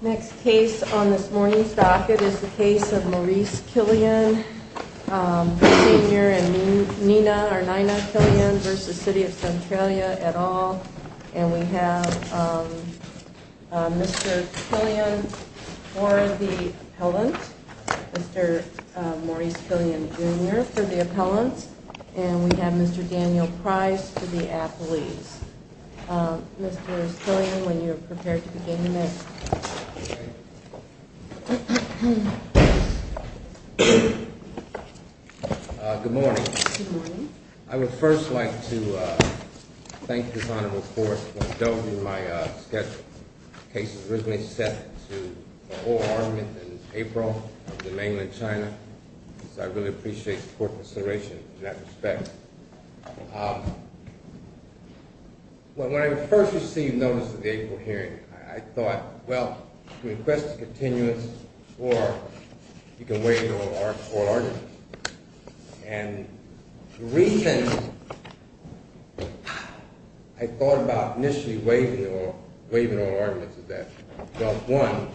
Next case on this morning's docket is the case of Maurice Killian Sr. and Nina Killian v. City of Centralia et al. And we have Mr. Killian for the appellant, Mr. Maurice Killian Jr. for the appellant. And we have Mr. Daniel Price for the appellees. Mr. Killian, when you're prepared to begin, you may. Good morning. Good morning. I would first like to thank this honorable court for indulging in my schedule. The case was originally set to a full argument in April of the mainland China, so I really appreciate the court's consideration in that respect. When I first received notice of the April hearing, I thought, well, you can request a continuance or you can waive the oral argument. And the reason I thought about initially waiving the oral argument is that, well, one,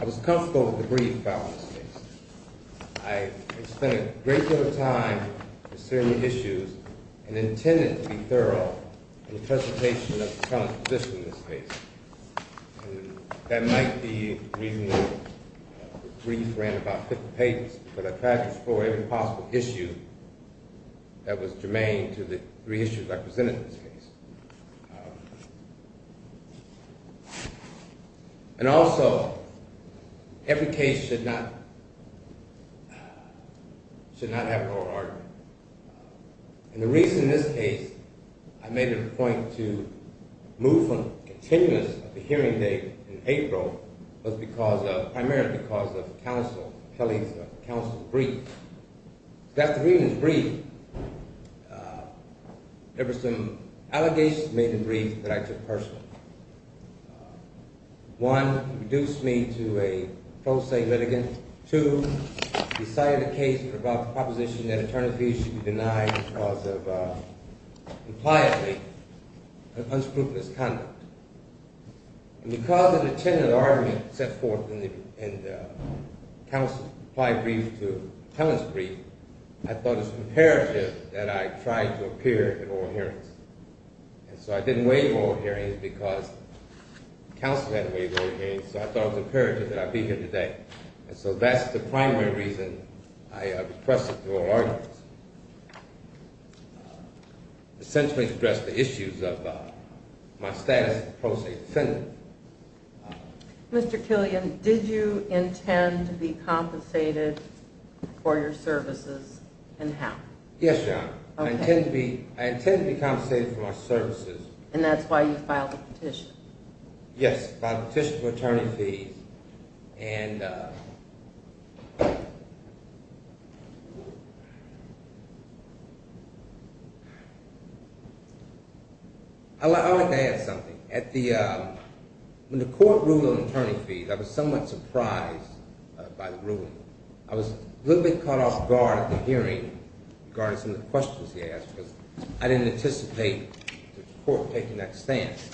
I was comfortable with the brief trial in this case. I spent a great deal of time considering the issues and intended to be thorough in the presentation of the appellant's position in this case. And that might be the reason the brief ran about 50 pages, because I tried to explore every possible issue that was germane to the three issues I presented in this case. And also, every case should not have an oral argument. And the reason in this case I made a point to move from continuance of the hearing date in April was primarily because of the appellee's counsel's brief. After reading the brief, there were some allegations made in the brief that I took personally. One, it reduced me to a pro se litigant. Two, it decided the case about the proposition that attorney fees should be denied because of, impliedly, unscrupulous conduct. And because of the intended argument set forth in the counsel's brief to the appellant's brief, I thought it was imperative that I try to appear at oral hearings. And so I didn't waive oral hearings because counsel hadn't waived oral hearings, so I thought it was imperative that I be here today. And so that's the primary reason I expressed it through oral arguments. Essentially to address the issues of my status as a pro se defendant. Mr. Killian, did you intend to be compensated for your services and how? Yes, Your Honor. I intended to be compensated for my services. And that's why you filed a petition? Yes, I filed a petition for attorney fees. And I'd like to add something. When the court ruled on attorney fees, I was somewhat surprised by the ruling. I was a little bit caught off guard at the hearing regarding some of the questions he asked because I didn't anticipate the court taking that stance.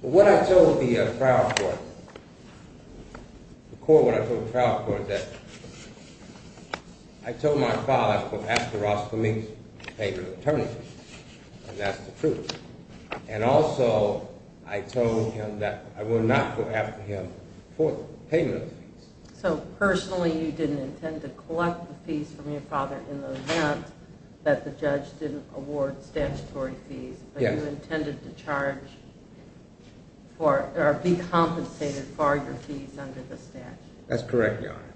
What I told the trial court, the court when I told the trial court, that I told my father I was going to ask the Roscoe Meeks for payment of attorney fees. And that's the truth. And also I told him that I would not go after him for payment of fees. So personally you didn't intend to collect the fees from your father in the event that the judge didn't award statutory fees. But you intended to charge or be compensated for your fees under the statute. That's correct, Your Honor.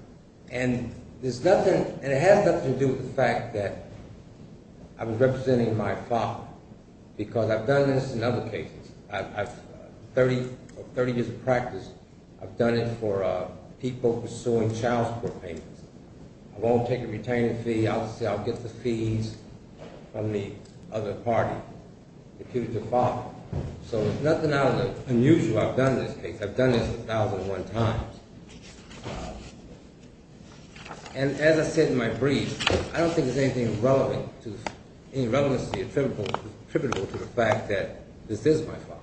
And it has nothing to do with the fact that I was representing my father because I've done this in other cases. 30 years of practice, I've done it for people pursuing child support payments. I won't take a retainer fee. Obviously I'll get the fees from the other party. It's up to the father. So nothing out of the unusual I've done in this case. I've done this 1,001 times. And as I said in my brief, I don't think there's anything relevant, any relevancy attributable to the fact that this is my father.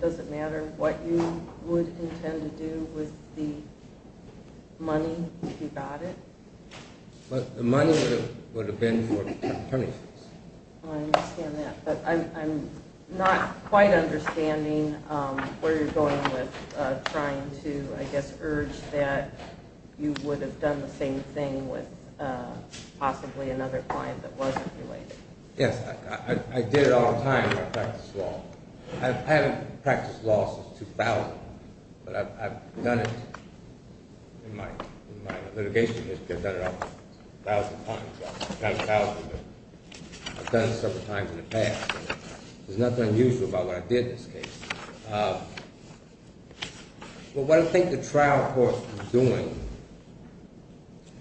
Does it matter what you would intend to do with the money if you got it? The money would have been for attorney fees. I understand that, but I'm not quite understanding where you're going with trying to, I guess, urge that you would have done the same thing with possibly another client that wasn't related. Yes, I did it all the time when I practiced law. I haven't practiced law since 2000, but I've done it in my litigation history. I've done it a thousand times. Not a thousand, but I've done it several times in the past. There's nothing unusual about what I did in this case. But what I think the trial court is doing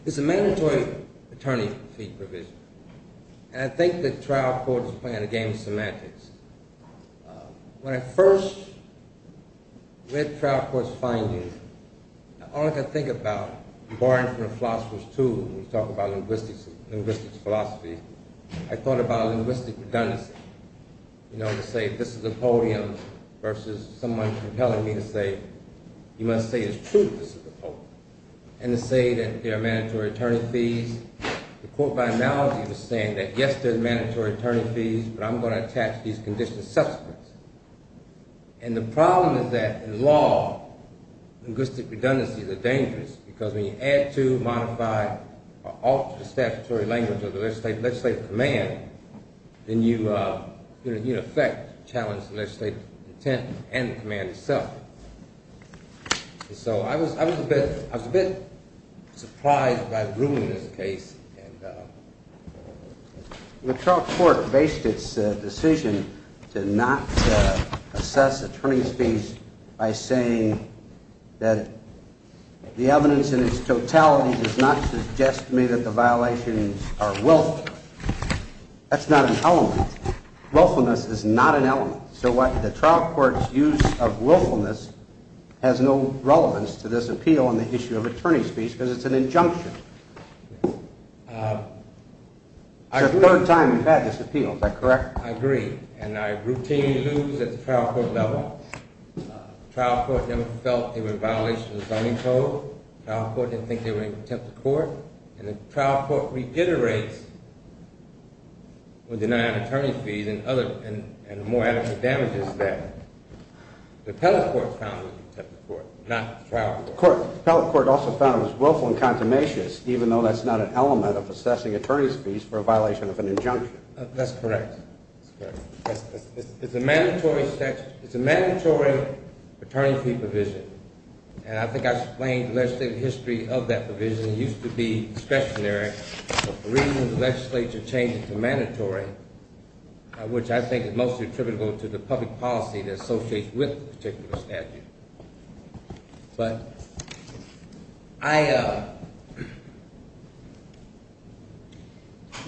is a mandatory attorney fee provision. And I think the trial court is playing a game of semantics. When I first read trial court's findings, all I could think about, barring from the philosophers, too, when you talk about linguistics and linguistics philosophy, I thought about linguistic redundancy. You know, to say this is a podium versus someone compelling me to say you must say it's true this is a podium. And to say that there are mandatory attorney fees. The court by analogy was saying that, yes, there's mandatory attorney fees, but I'm going to attach these conditions as subsequence. And the problem is that in law, linguistic redundancies are dangerous because when you add to, modify, or alter the statutory language of the legislative command, then you, in effect, challenge the legislative intent and the command itself. So I was a bit surprised by the ruling in this case. The trial court based its decision to not assess attorney fees by saying that the evidence in its totality does not suggest to me that the violations are willful. That's not an element. Willfulness is not an element. So the trial court's use of willfulness has no relevance to this appeal on the issue of attorney fees because it's an injunction. It's the third time we've had this appeal, is that correct? I agree. And I routinely lose at the trial court level. Trial court never felt they were in violation of the zoning code. Trial court didn't think they were in contempt of court. And the trial court reiterates with denying attorney fees and more adequate damages that the appellate court found them in contempt of court, not the trial court. The appellate court also found them as willful and consummatious, even though that's not an element of assessing attorney fees for a violation of an injunction. That's correct. It's correct. It's a mandatory statute. It's a mandatory attorney fee provision. And I think I explained the legislative history of that provision. It used to be discretionary, but for reasons the legislature changed it to mandatory, which I think is mostly attributable to the public policy that associates with the particular statute.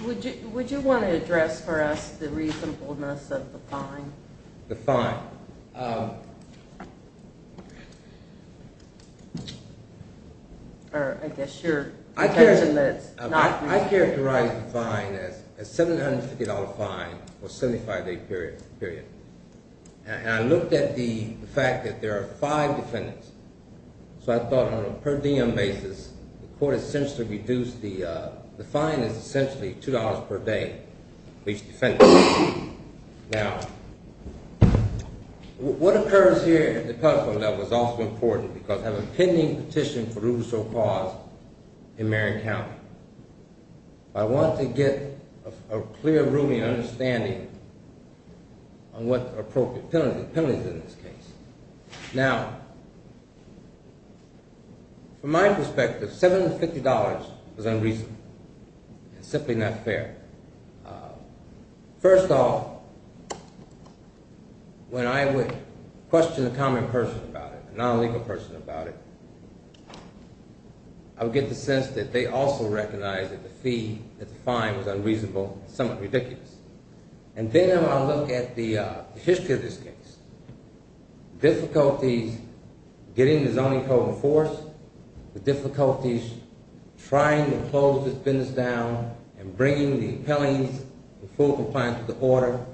Would you want to address for us the reasonableness of the fine? The fine. Or I guess your intention that it's not reasonable. I characterize the fine as a $750 fine for a 75-day period. And I looked at the fact that there are five defendants. So I thought on a per diem basis, the court essentially reduced the – the fine is essentially $2 per day for each defendant. Now, what occurs here at the public court level is also important because I have a pending petition for judicial cause in Marion County. I want to get a clear ruling and understanding on what the appropriate penalty is in this case. Now, from my perspective, $750 is unreasonable. It's simply not fair. First off, when I would question a common person about it, a non-legal person about it, I would get the sense that they also recognize that the fee, that the fine was unreasonable and somewhat ridiculous. And then when I look at the history of this case, difficulties getting the zoning code in force, the difficulties trying to close this business down and bringing the appellees in full compliance with the order,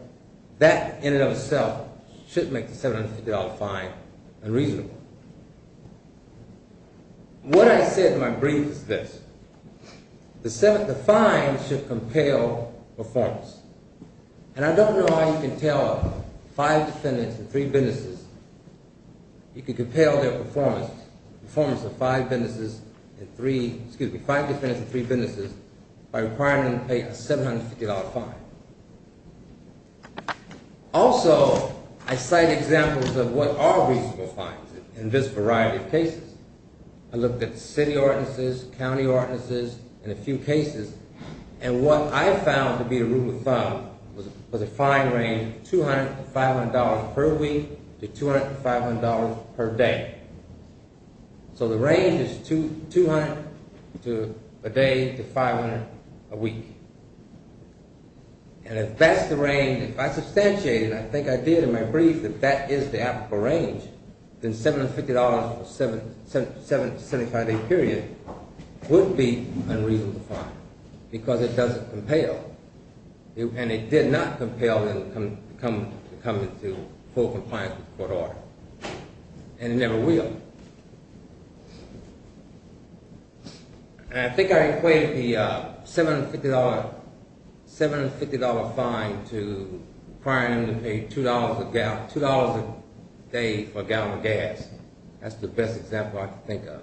that in and of itself should make the $750 fine unreasonable. What I said in my brief is this. The fine should compel performance. And I don't know how you can tell five defendants and three businesses – you can compel their performance, the performance of five businesses and three – excuse me, five defendants and three businesses by requiring them to pay a $750 fine. Also, I cite examples of what are reasonable fines in this variety of cases. I looked at city ordinances, county ordinances, and a few cases, and what I found to be the rule of thumb was a fine range of $200 to $500 per week to $200 to $500 per day. So the range is $200 a day to $500 a week. And if that's the range – if I substantiate it, and I think I did in my brief that that is the applicable range, then $750 for a 75-day period would be unreasonable fine because it doesn't compel. And it did not compel them to come into full compliance with the court order. And it never will. And I think I equate the $750 fine to requiring them to pay $2 a day for a gallon of gas. That's the best example I can think of.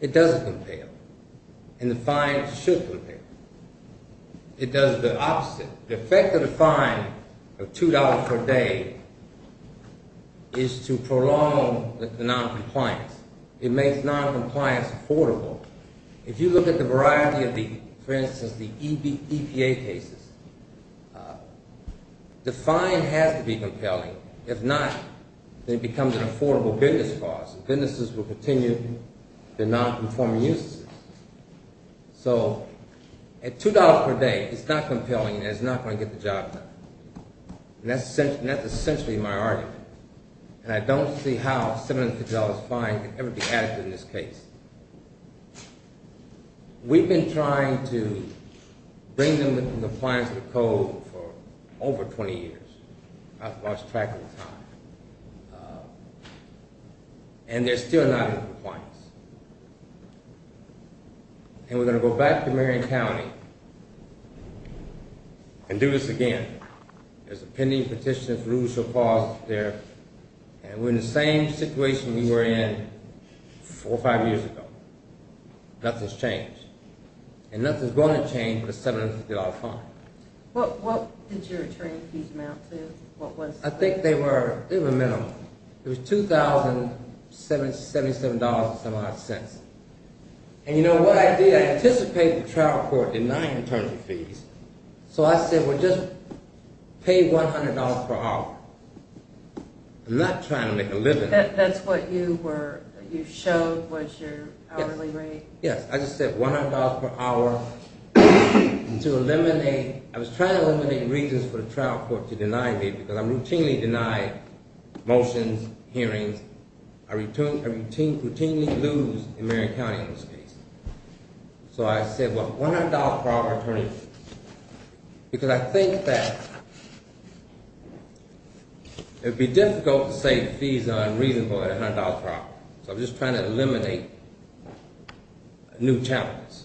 It doesn't compel. And the fine should compel. It does the opposite. The effect of the fine of $2 per day is to prolong the noncompliance. It makes noncompliance affordable. If you look at the variety of the, for instance, the EPA cases, the fine has to be compelling. If not, then it becomes an affordable business clause. Businesses will continue their nonconforming uses. So at $2 per day, it's not compelling and it's not going to get the job done. And that's essentially my argument. And I don't see how a $750 fine could ever be added to this case. We've been trying to bring them into compliance with the code for over 20 years. I've lost track of the time. And they're still not in compliance. And we're going to go back to Marion County and do this again. There's a pending petition for judicial clause there. And we're in the same situation we were in four or five years ago. Nothing's changed. And nothing's going to change with a $750 fine. What did your training fees amount to? I think they were minimal. It was $2,077.75. And you know what I did? I anticipated the trial court denying internal fees. So I said, well, just pay $100 per hour. I'm not trying to make a living. That's what you were, you showed was your hourly rate. Yes, I just said $100 per hour to eliminate, I was trying to eliminate reasons for the trial court to deny me because I'm routinely denied motions, hearings. I routinely lose in Marion County in this case. So I said, well, $100 per hour attorney. Because I think that it would be difficult to say the fees are unreasonable at $100 per hour. So I'm just trying to eliminate new challenges.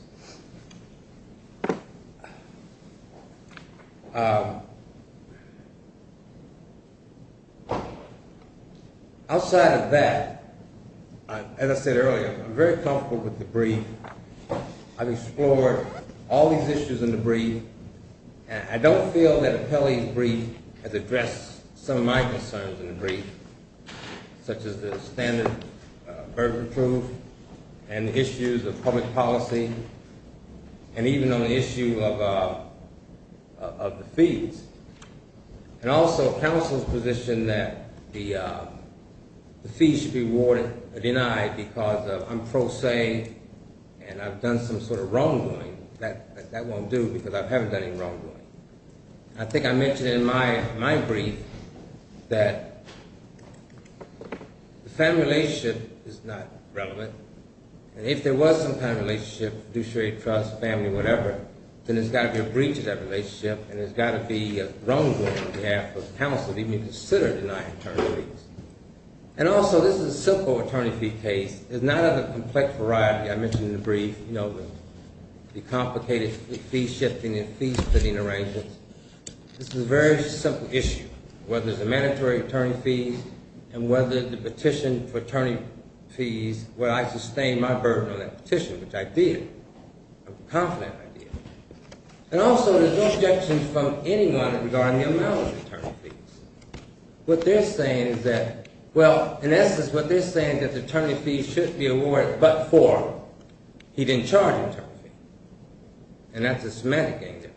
Outside of that, as I said earlier, I'm very comfortable with the brief. I've explored all these issues in the brief. I don't feel that Appellee's brief has addressed some of my concerns in the brief, such as the standard burden of proof and issues of public policy. And even on the issue of the fees. And also counsel's position that the fees should be awarded or denied because I'm pro se and I've done some sort of wrongdoing. That won't do because I haven't done any wrongdoing. I think I mentioned in my brief that the family relationship is not relevant. And if there was some kind of relationship, fiduciary trust, family, whatever, then there's got to be a breach of that relationship and there's got to be a wrongdoing on behalf of counsel to even consider denying attorney fees. And also this is a simple attorney fee case. It's not of a complex variety. I mentioned in the brief, you know, the complicated fee shifting and fee splitting arrangements. This is a very simple issue. Whether it's a mandatory attorney fee and whether the petition for attorney fees, I sustained my burden on that petition, which I did. I'm confident I did. And also there's no objections from anyone regarding the amount of attorney fees. What they're saying is that, well, in essence what they're saying is that the attorney fee should be awarded but for, he didn't charge an attorney fee. And that's a semantic angle.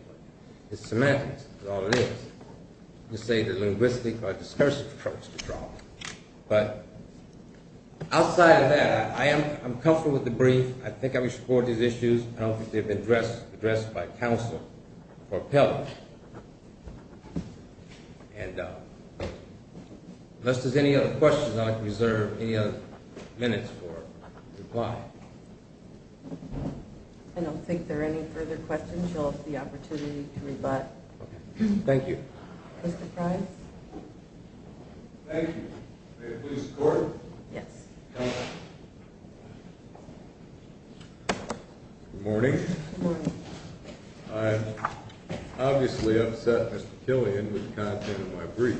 It's semantics. That's all it is. You say the linguistic or discursive approach to the problem. But outside of that, I am comfortable with the brief. I think I would support these issues. I don't think they've been addressed by counsel or appellate. And unless there's any other questions, I'll reserve any other minutes for reply. I don't think there are any further questions. You'll have the opportunity to rebut. Thank you. Mr. Price? May I please record? Yes. Good morning. Good morning. I'm obviously upset, Mr. Killian, with the content of my brief.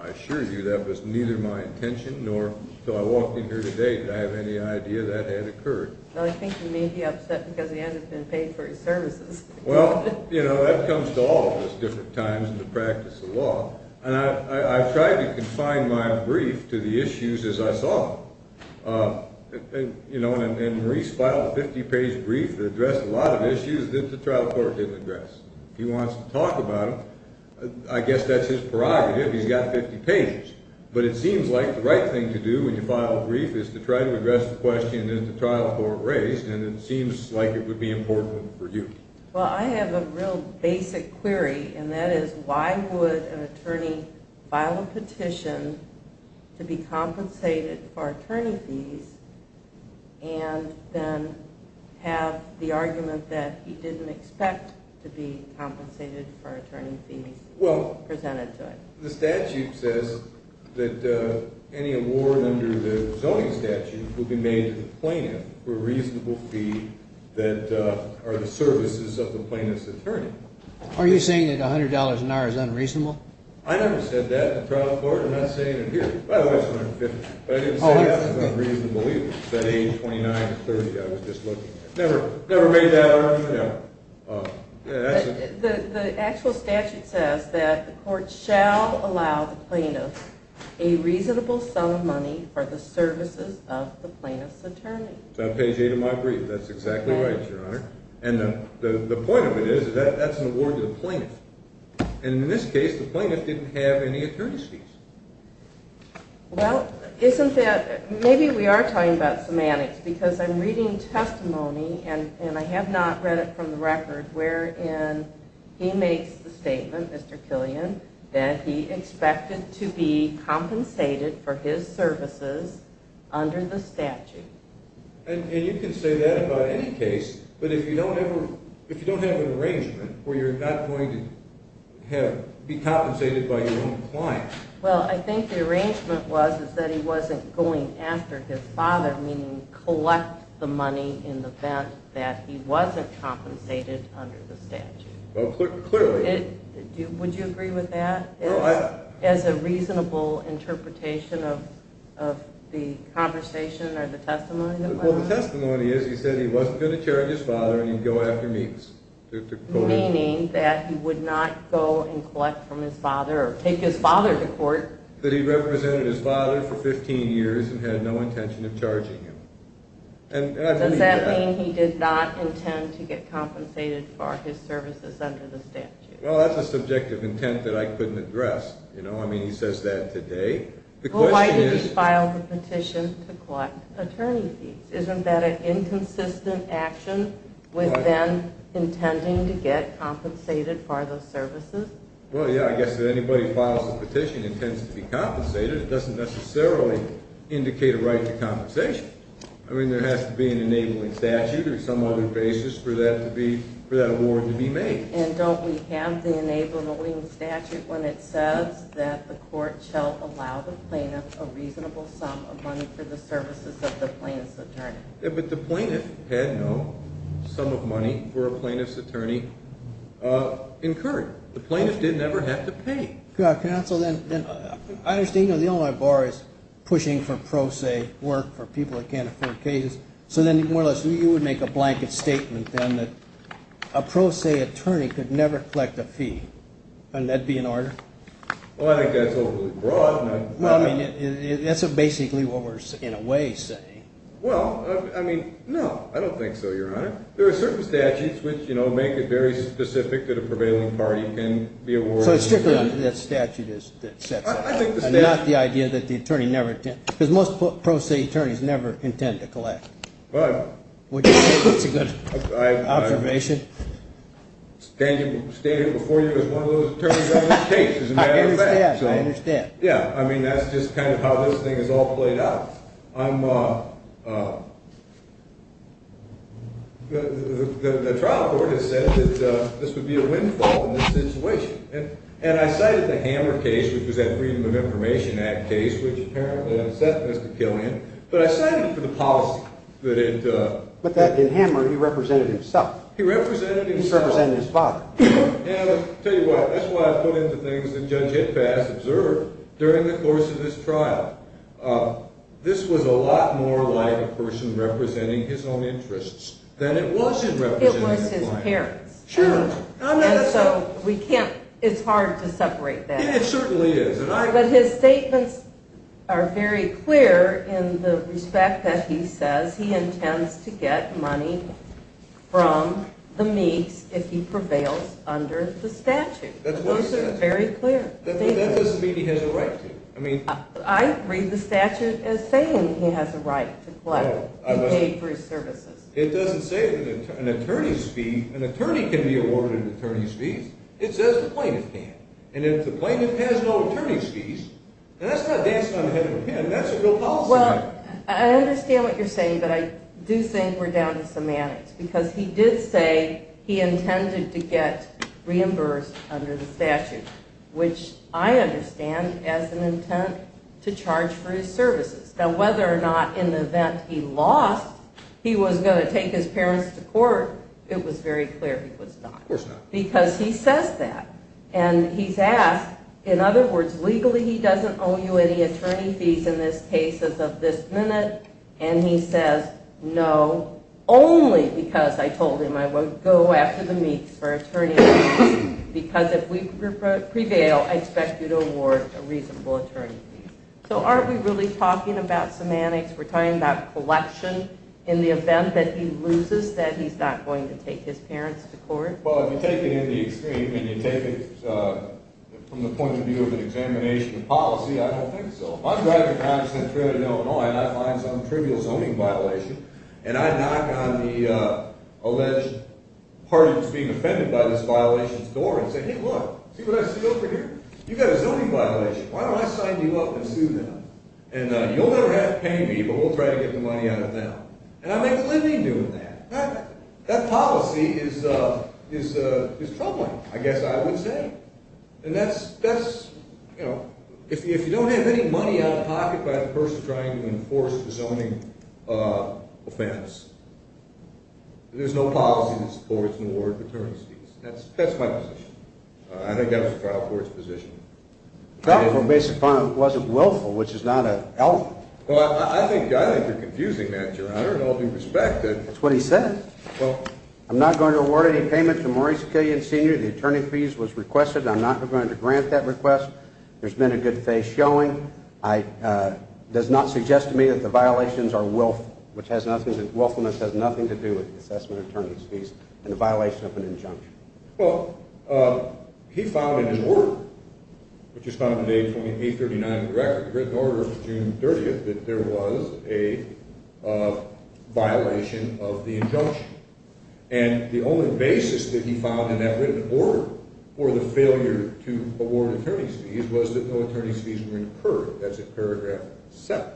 I assure you that was neither my intention nor, until I walked in here today, did I have any idea that had occurred. Well, I think you may be upset because he hasn't been paid for his services. Well, you know, that comes to all of us at different times in the practice of law. And I've tried to confine my brief to the issues as I saw them. You know, and Maurice filed a 50-page brief that addressed a lot of issues that the trial court didn't address. He wants to talk about them. I guess that's his prerogative. He's got 50 pages. But it seems like the right thing to do when you file a brief is to try to address the question that the trial court raised, and it seems like it would be important for you. Well, I have a real basic query, and that is, why would an attorney file a petition to be compensated for attorney fees and then have the argument that he didn't expect to be compensated for attorney fees presented to it? Well, the statute says that any award under the zoning statute would be made to the plaintiff for a reasonable fee that are the services of the plaintiff's attorney. Are you saying that $100 an hour is unreasonable? I never said that in the trial court. I'm not saying it here. By the way, it's $150. But I didn't say that was unreasonable either. It's that $829.30 I was just looking at. Never made that argument, no. The actual statute says that the court shall allow the plaintiff a reasonable sum of money for the services of the plaintiff's attorney. On page 8 of my brief, that's exactly right, Your Honor. And the point of it is, that's an award to the plaintiff. And in this case, the plaintiff didn't have any attorney fees. Well, isn't that, maybe we are talking about semantics, because I'm reading testimony, and I have not read it from the record, wherein he makes the statement, Mr. Killian, that he expected to be compensated for his services under the statute. And you can say that about any case, but if you don't have an arrangement, where you're not going to be compensated by your own client. Well, I think the arrangement was that he wasn't going after his father, meaning collect the money in the event that he wasn't compensated under the statute. Well, clearly. Would you agree with that? My testimony is, he said he wasn't going to charge his father, and he'd go after me. Meaning that he would not go and collect from his father, or take his father to court. That he represented his father for 15 years and had no intention of charging him. Does that mean he did not intend to get compensated for his services under the statute? Well, that's a subjective intent that I couldn't address. I mean, he says that today. Well, why did he file the petition to collect attorney fees? Isn't that an inconsistent action with them intending to get compensated for those services? Well, yeah, I guess if anybody files a petition and intends to be compensated, it doesn't necessarily indicate a right to compensation. I mean, there has to be an enabling statute or some other basis for that award to be made. And don't we have the enabling statute when it says that the court shall allow the plaintiff a reasonable sum of money for the services of the plaintiff's attorney? Yeah, but the plaintiff had no sum of money for a plaintiff's attorney incurred. The plaintiff didn't ever have to pay. Counsel, I understand the Illinois Bar is pushing for pro se work for people that can't afford cases. So then, more or less, you would make a blanket statement then that a pro se attorney could never collect a fee. Wouldn't that be an order? Well, I think that's overly broad. No, I mean, that's basically what we're, in a way, saying. Well, I mean, no, I don't think so, Your Honor. There are certain statutes which, you know, make it very specific that a prevailing party can be awarded. So it's strictly under that statute that it sets up. I think the statute. Not the idea that the attorney never, because most pro se attorneys never intend to collect. But. That's a good observation. Stated before you as one of those attorneys on this case, as a matter of fact. I understand, I understand. Yeah, I mean, that's just kind of how this thing is all played out. I'm, the trial court has said that this would be a windfall in this situation. And I cited the Hammer case, which was that Freedom of Information Act case, which apparently upset Mr. Killian. But I cited it for the policy that it. But that, in Hammer, he represented himself. He represented himself. He represented his father. And I'll tell you what, that's why I put in the things that Judge Itfast observed during the course of this trial. This was a lot more like a person representing his own interests than it was in representing his wife. It was his parents. Sure. And so we can't, it's hard to separate that. It certainly is. But his statements are very clear in the respect that he says he intends to get money from the Meeks if he prevails under the statute. Those are very clear. That doesn't mean he has a right to. I read the statute as saying he has a right to collect and pay for his services. It doesn't say that an attorney can be awarded attorney's fees. It says the plaintiff can. And if the plaintiff has no attorney's fees, and that's not dancing on the head of a pen, that's a real policy matter. Well, I understand what you're saying, but I do think we're down to semantics. Because he did say he intended to get reimbursed under the statute, which I understand as an intent to charge for his services. Now, whether or not in the event he lost, he was going to take his parents to court, it was very clear he was not. Of course not. Because he says that. And he's asked, in other words, legally he doesn't owe you any attorney fees in this case as of this minute. And he says no, only because I told him I would go after the Meeks for attorney fees, because if we prevail, I expect you to award a reasonable attorney fee. So aren't we really talking about semantics? We're talking about collection in the event that he loses, that he's not going to take his parents to court? Well, if you take it in the extreme, and you take it from the point of view of an examination of policy, I don't think so. If I'm driving a taxi in Illinois and I find some trivial zoning violation, and I knock on the alleged party that's being offended by this violation's door and say, hey, look, see what I see over here? You've got a zoning violation. Why don't I sign you up and sue them? And you'll never have to pay me, but we'll try to get the money out of them. And I make a living doing that. That policy is troubling, I guess I would say. And that's, you know, if you don't have any money out of pocket by the person trying to enforce the zoning offense, there's no policy that supports an award of attorney fees. That's my position. I think that was the trial court's position. Well, based upon it wasn't willful, which is not an element. Well, I think you're confusing that, Your Honor, in all due respect. That's what he said. I'm not going to award any payment to Maurice Killian, Sr. The attorney fees was requested, and I'm not going to grant that request. There's been a good face showing. It does not suggest to me that the violations are willful. Willfulness has nothing to do with the assessment of attorney's fees and the violation of an injunction. Well, he found in his order, which is found in page 2839 of the record, the written order of June 30th, that there was a violation of the injunction. And the only basis that he found in that written order for the failure to award attorney's fees was that no attorney's fees were incurred, as in paragraph 7.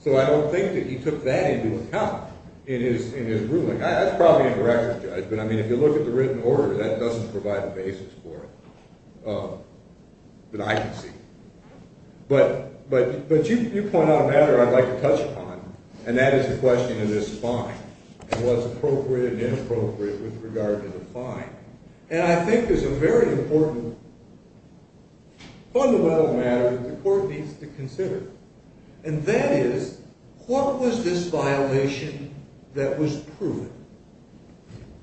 So I don't think that he took that into account in his ruling. That's probably a direct judgment. I mean, if you look at the written order, that doesn't provide the basis for it. But I can see. But you point out a matter I'd like to touch upon, and that is the question of this fine and what's appropriate and inappropriate with regard to the fine. And I think there's a very important fundamental matter that the court needs to consider. And that is, what was this violation that was proven?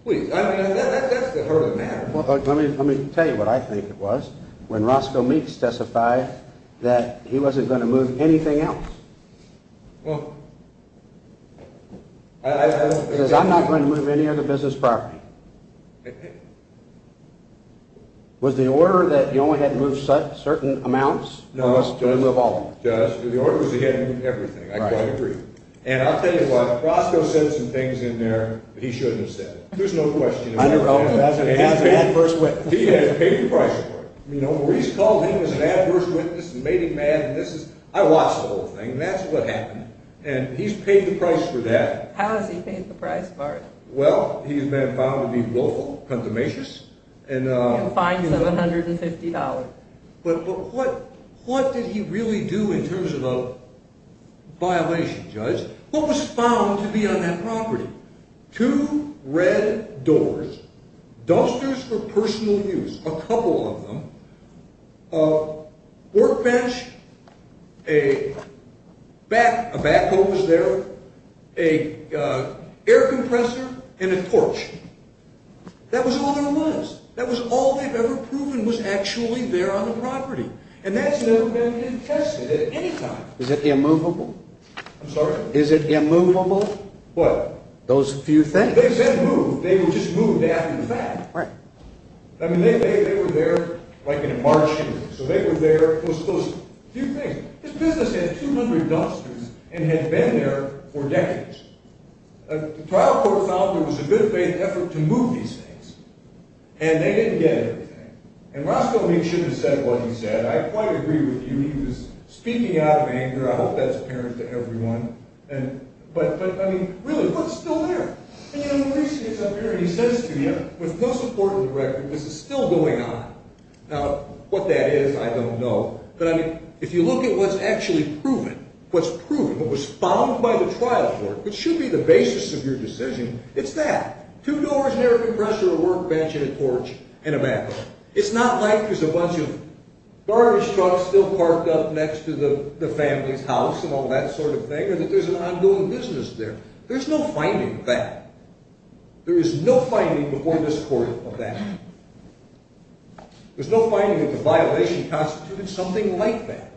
Please, I mean, that's the heart of the matter. Let me tell you what I think it was. When Roscoe Meeks testified that he wasn't going to move anything else. Well, I... He says, I'm not going to move any other business property. Okay. Was the order that you only had to move certain amounts? No. The order was that he had to move everything. I quite agree. And I'll tell you what, Roscoe said some things in there that he shouldn't have said. There's no question. He has paid the price for it. Maurice called him an adverse witness and made him mad. I watched the whole thing. That's what happened. And he's paid the price for that. How has he paid the price for it? Well, he's been found to be willful, consummatious. And fined $750. But what did he really do in terms of a violation, Judge? What was found to be on that property? Two red doors. Dumpsters for personal use. A couple of them. A workbench. A backhoe was there. An air compressor and a torch. That was all there was. That was all they've ever proven was actually there on the property. And that's never been tested at any time. Is it immovable? I'm sorry? Is it immovable? What? Those few things. They've been moved. They were just moved after the fact. Right. I mean, they were there like in a marsh. So they were there. Those few things. This business had 200 dumpsters and had been there for decades. The trial court found there was a good faith effort to move these things. And they didn't get everything. And Roscoe Meeks should have said what he said. I quite agree with you. He was speaking out of anger. I hope that's apparent to everyone. But, I mean, really, what's still there? And, you know, the police gets up here and he says to you, with no support of the record, this is still going on. Now, what that is, I don't know. But, I mean, if you look at what's actually proven, what's proven, what was found by the trial court, which should be the basis of your decision, it's that. Two doors, an air compressor, a workbench, and a torch, and a backhoe. It's not like there's a bunch of garbage trucks still parked up next to the family's house and all that sort of thing, or that there's an ongoing business there. There's no finding of that. There is no finding before this court of that. There's no finding that the violation constituted something like that.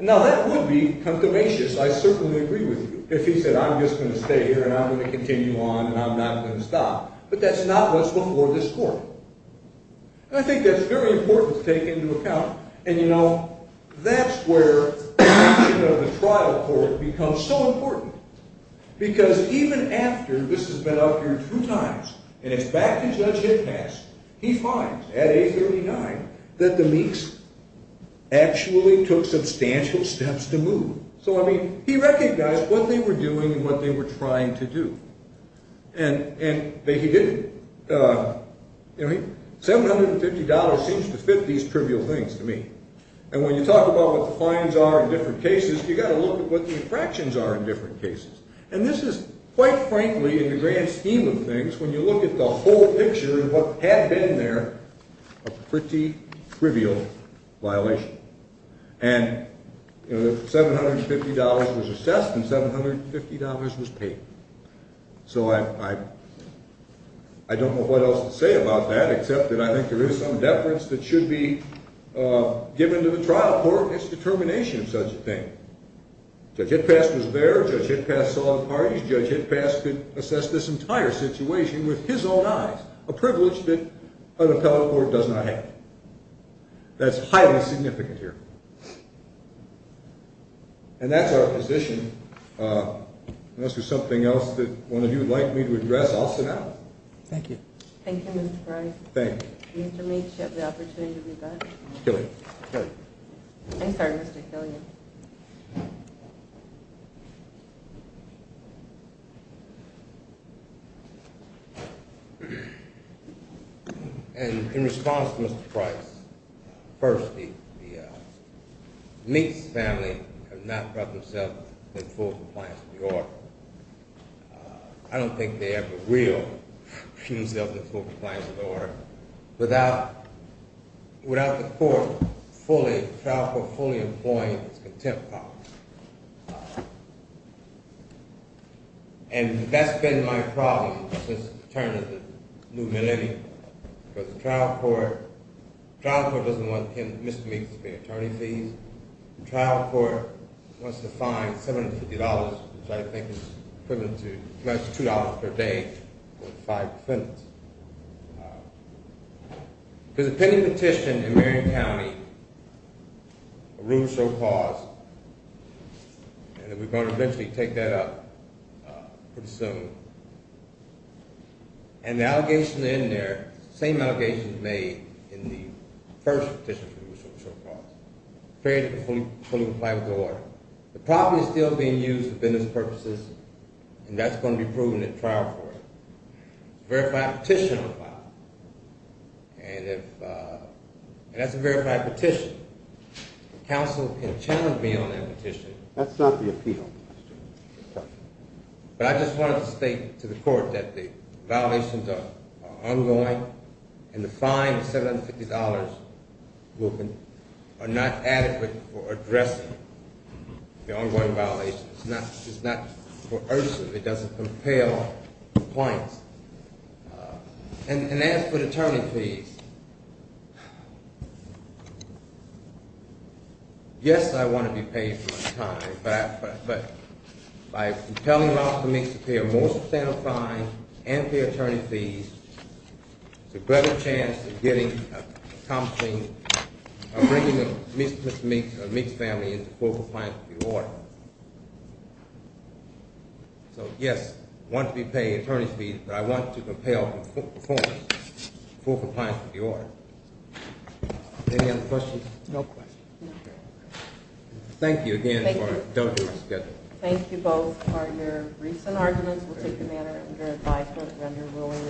Now, that would be confirmatious. I certainly agree with you. If he said, I'm just going to stay here and I'm going to continue on and I'm not going to stop. But that's not what's before this court. And I think that's very important to take into account. And, you know, that's where the mission of the trial court becomes so important. Because even after this has been up here two times, and it's back to Judge Hickmast, he finds, at 839, that the Meeks actually took substantial steps to move. So, I mean, he recognized what they were doing and what they were trying to do. And he didn't, you know, $750 seems to fit these trivial things to me. And when you talk about what the fines are in different cases, you've got to look at what the infractions are in different cases. And this is, quite frankly, in the grand scheme of things, when you look at the whole picture of what had been there, a pretty trivial violation. And, you know, $750 was assessed and $750 was paid. So I don't know what else to say about that, except that I think there is some deference that should be given to the trial court, its determination of such a thing. Judge Hickmast was there. Judge Hickmast saw the parties. Judge Hickmast could assess this entire situation with his own eyes, a privilege that an appellate court does not have. That's highly significant here. And that's our position. Unless there's something else that one of you would like me to address, I'll sit down. Thank you. Thank you, Mr. Price. Thank you. Mr. Meeks, you have the opportunity to be back. Killian. I'm sorry, Mr. Killian. And in response to Mr. Price, first, the Meeks family have not brought themselves in full compliance with the order. I don't think they ever will put themselves in full compliance with the order without the court fully, the trial court fully employing its contempt policy. And that's been my problem since the turn of the new millennium. Because the trial court, the trial court doesn't want Mr. Meeks to pay attorney fees. The trial court wants to fine $750, which I think is equivalent to $22 per day for five defendants. There's a pending petition in Marion County, a rule so paused, and we're going to eventually take that up pretty soon. And the allegation in there, the same allegations made in the first petition which was so paused. We're afraid it will fully comply with the order. The property is still being used for business purposes, and that's going to be proven at trial court. A verified petition will apply. And if, uh, and that's a verified petition. Counsel can challenge me on that petition. That's not the appeal, Mr. Meeks. But I just wanted to state to the court that the violations are ongoing, and the fine of $750 are not adequate for addressing the ongoing violations. It's not coercive. It doesn't compel complaints. And as for attorney fees, yes, I want to be paid my time, but by compelling Ralph Meeks to pay a more substantial fine and pay attorney fees, it's a better chance of getting, accomplishing, of bringing Mr. Meeks' family into full compliance with the order. So, yes, I want to be paid attorney fees, but I want to compel the performance of full compliance with the order. Any other questions? No questions. Thank you again. Thank you. Thank you both for your recent arguments. We'll take them under advisement and under rulings.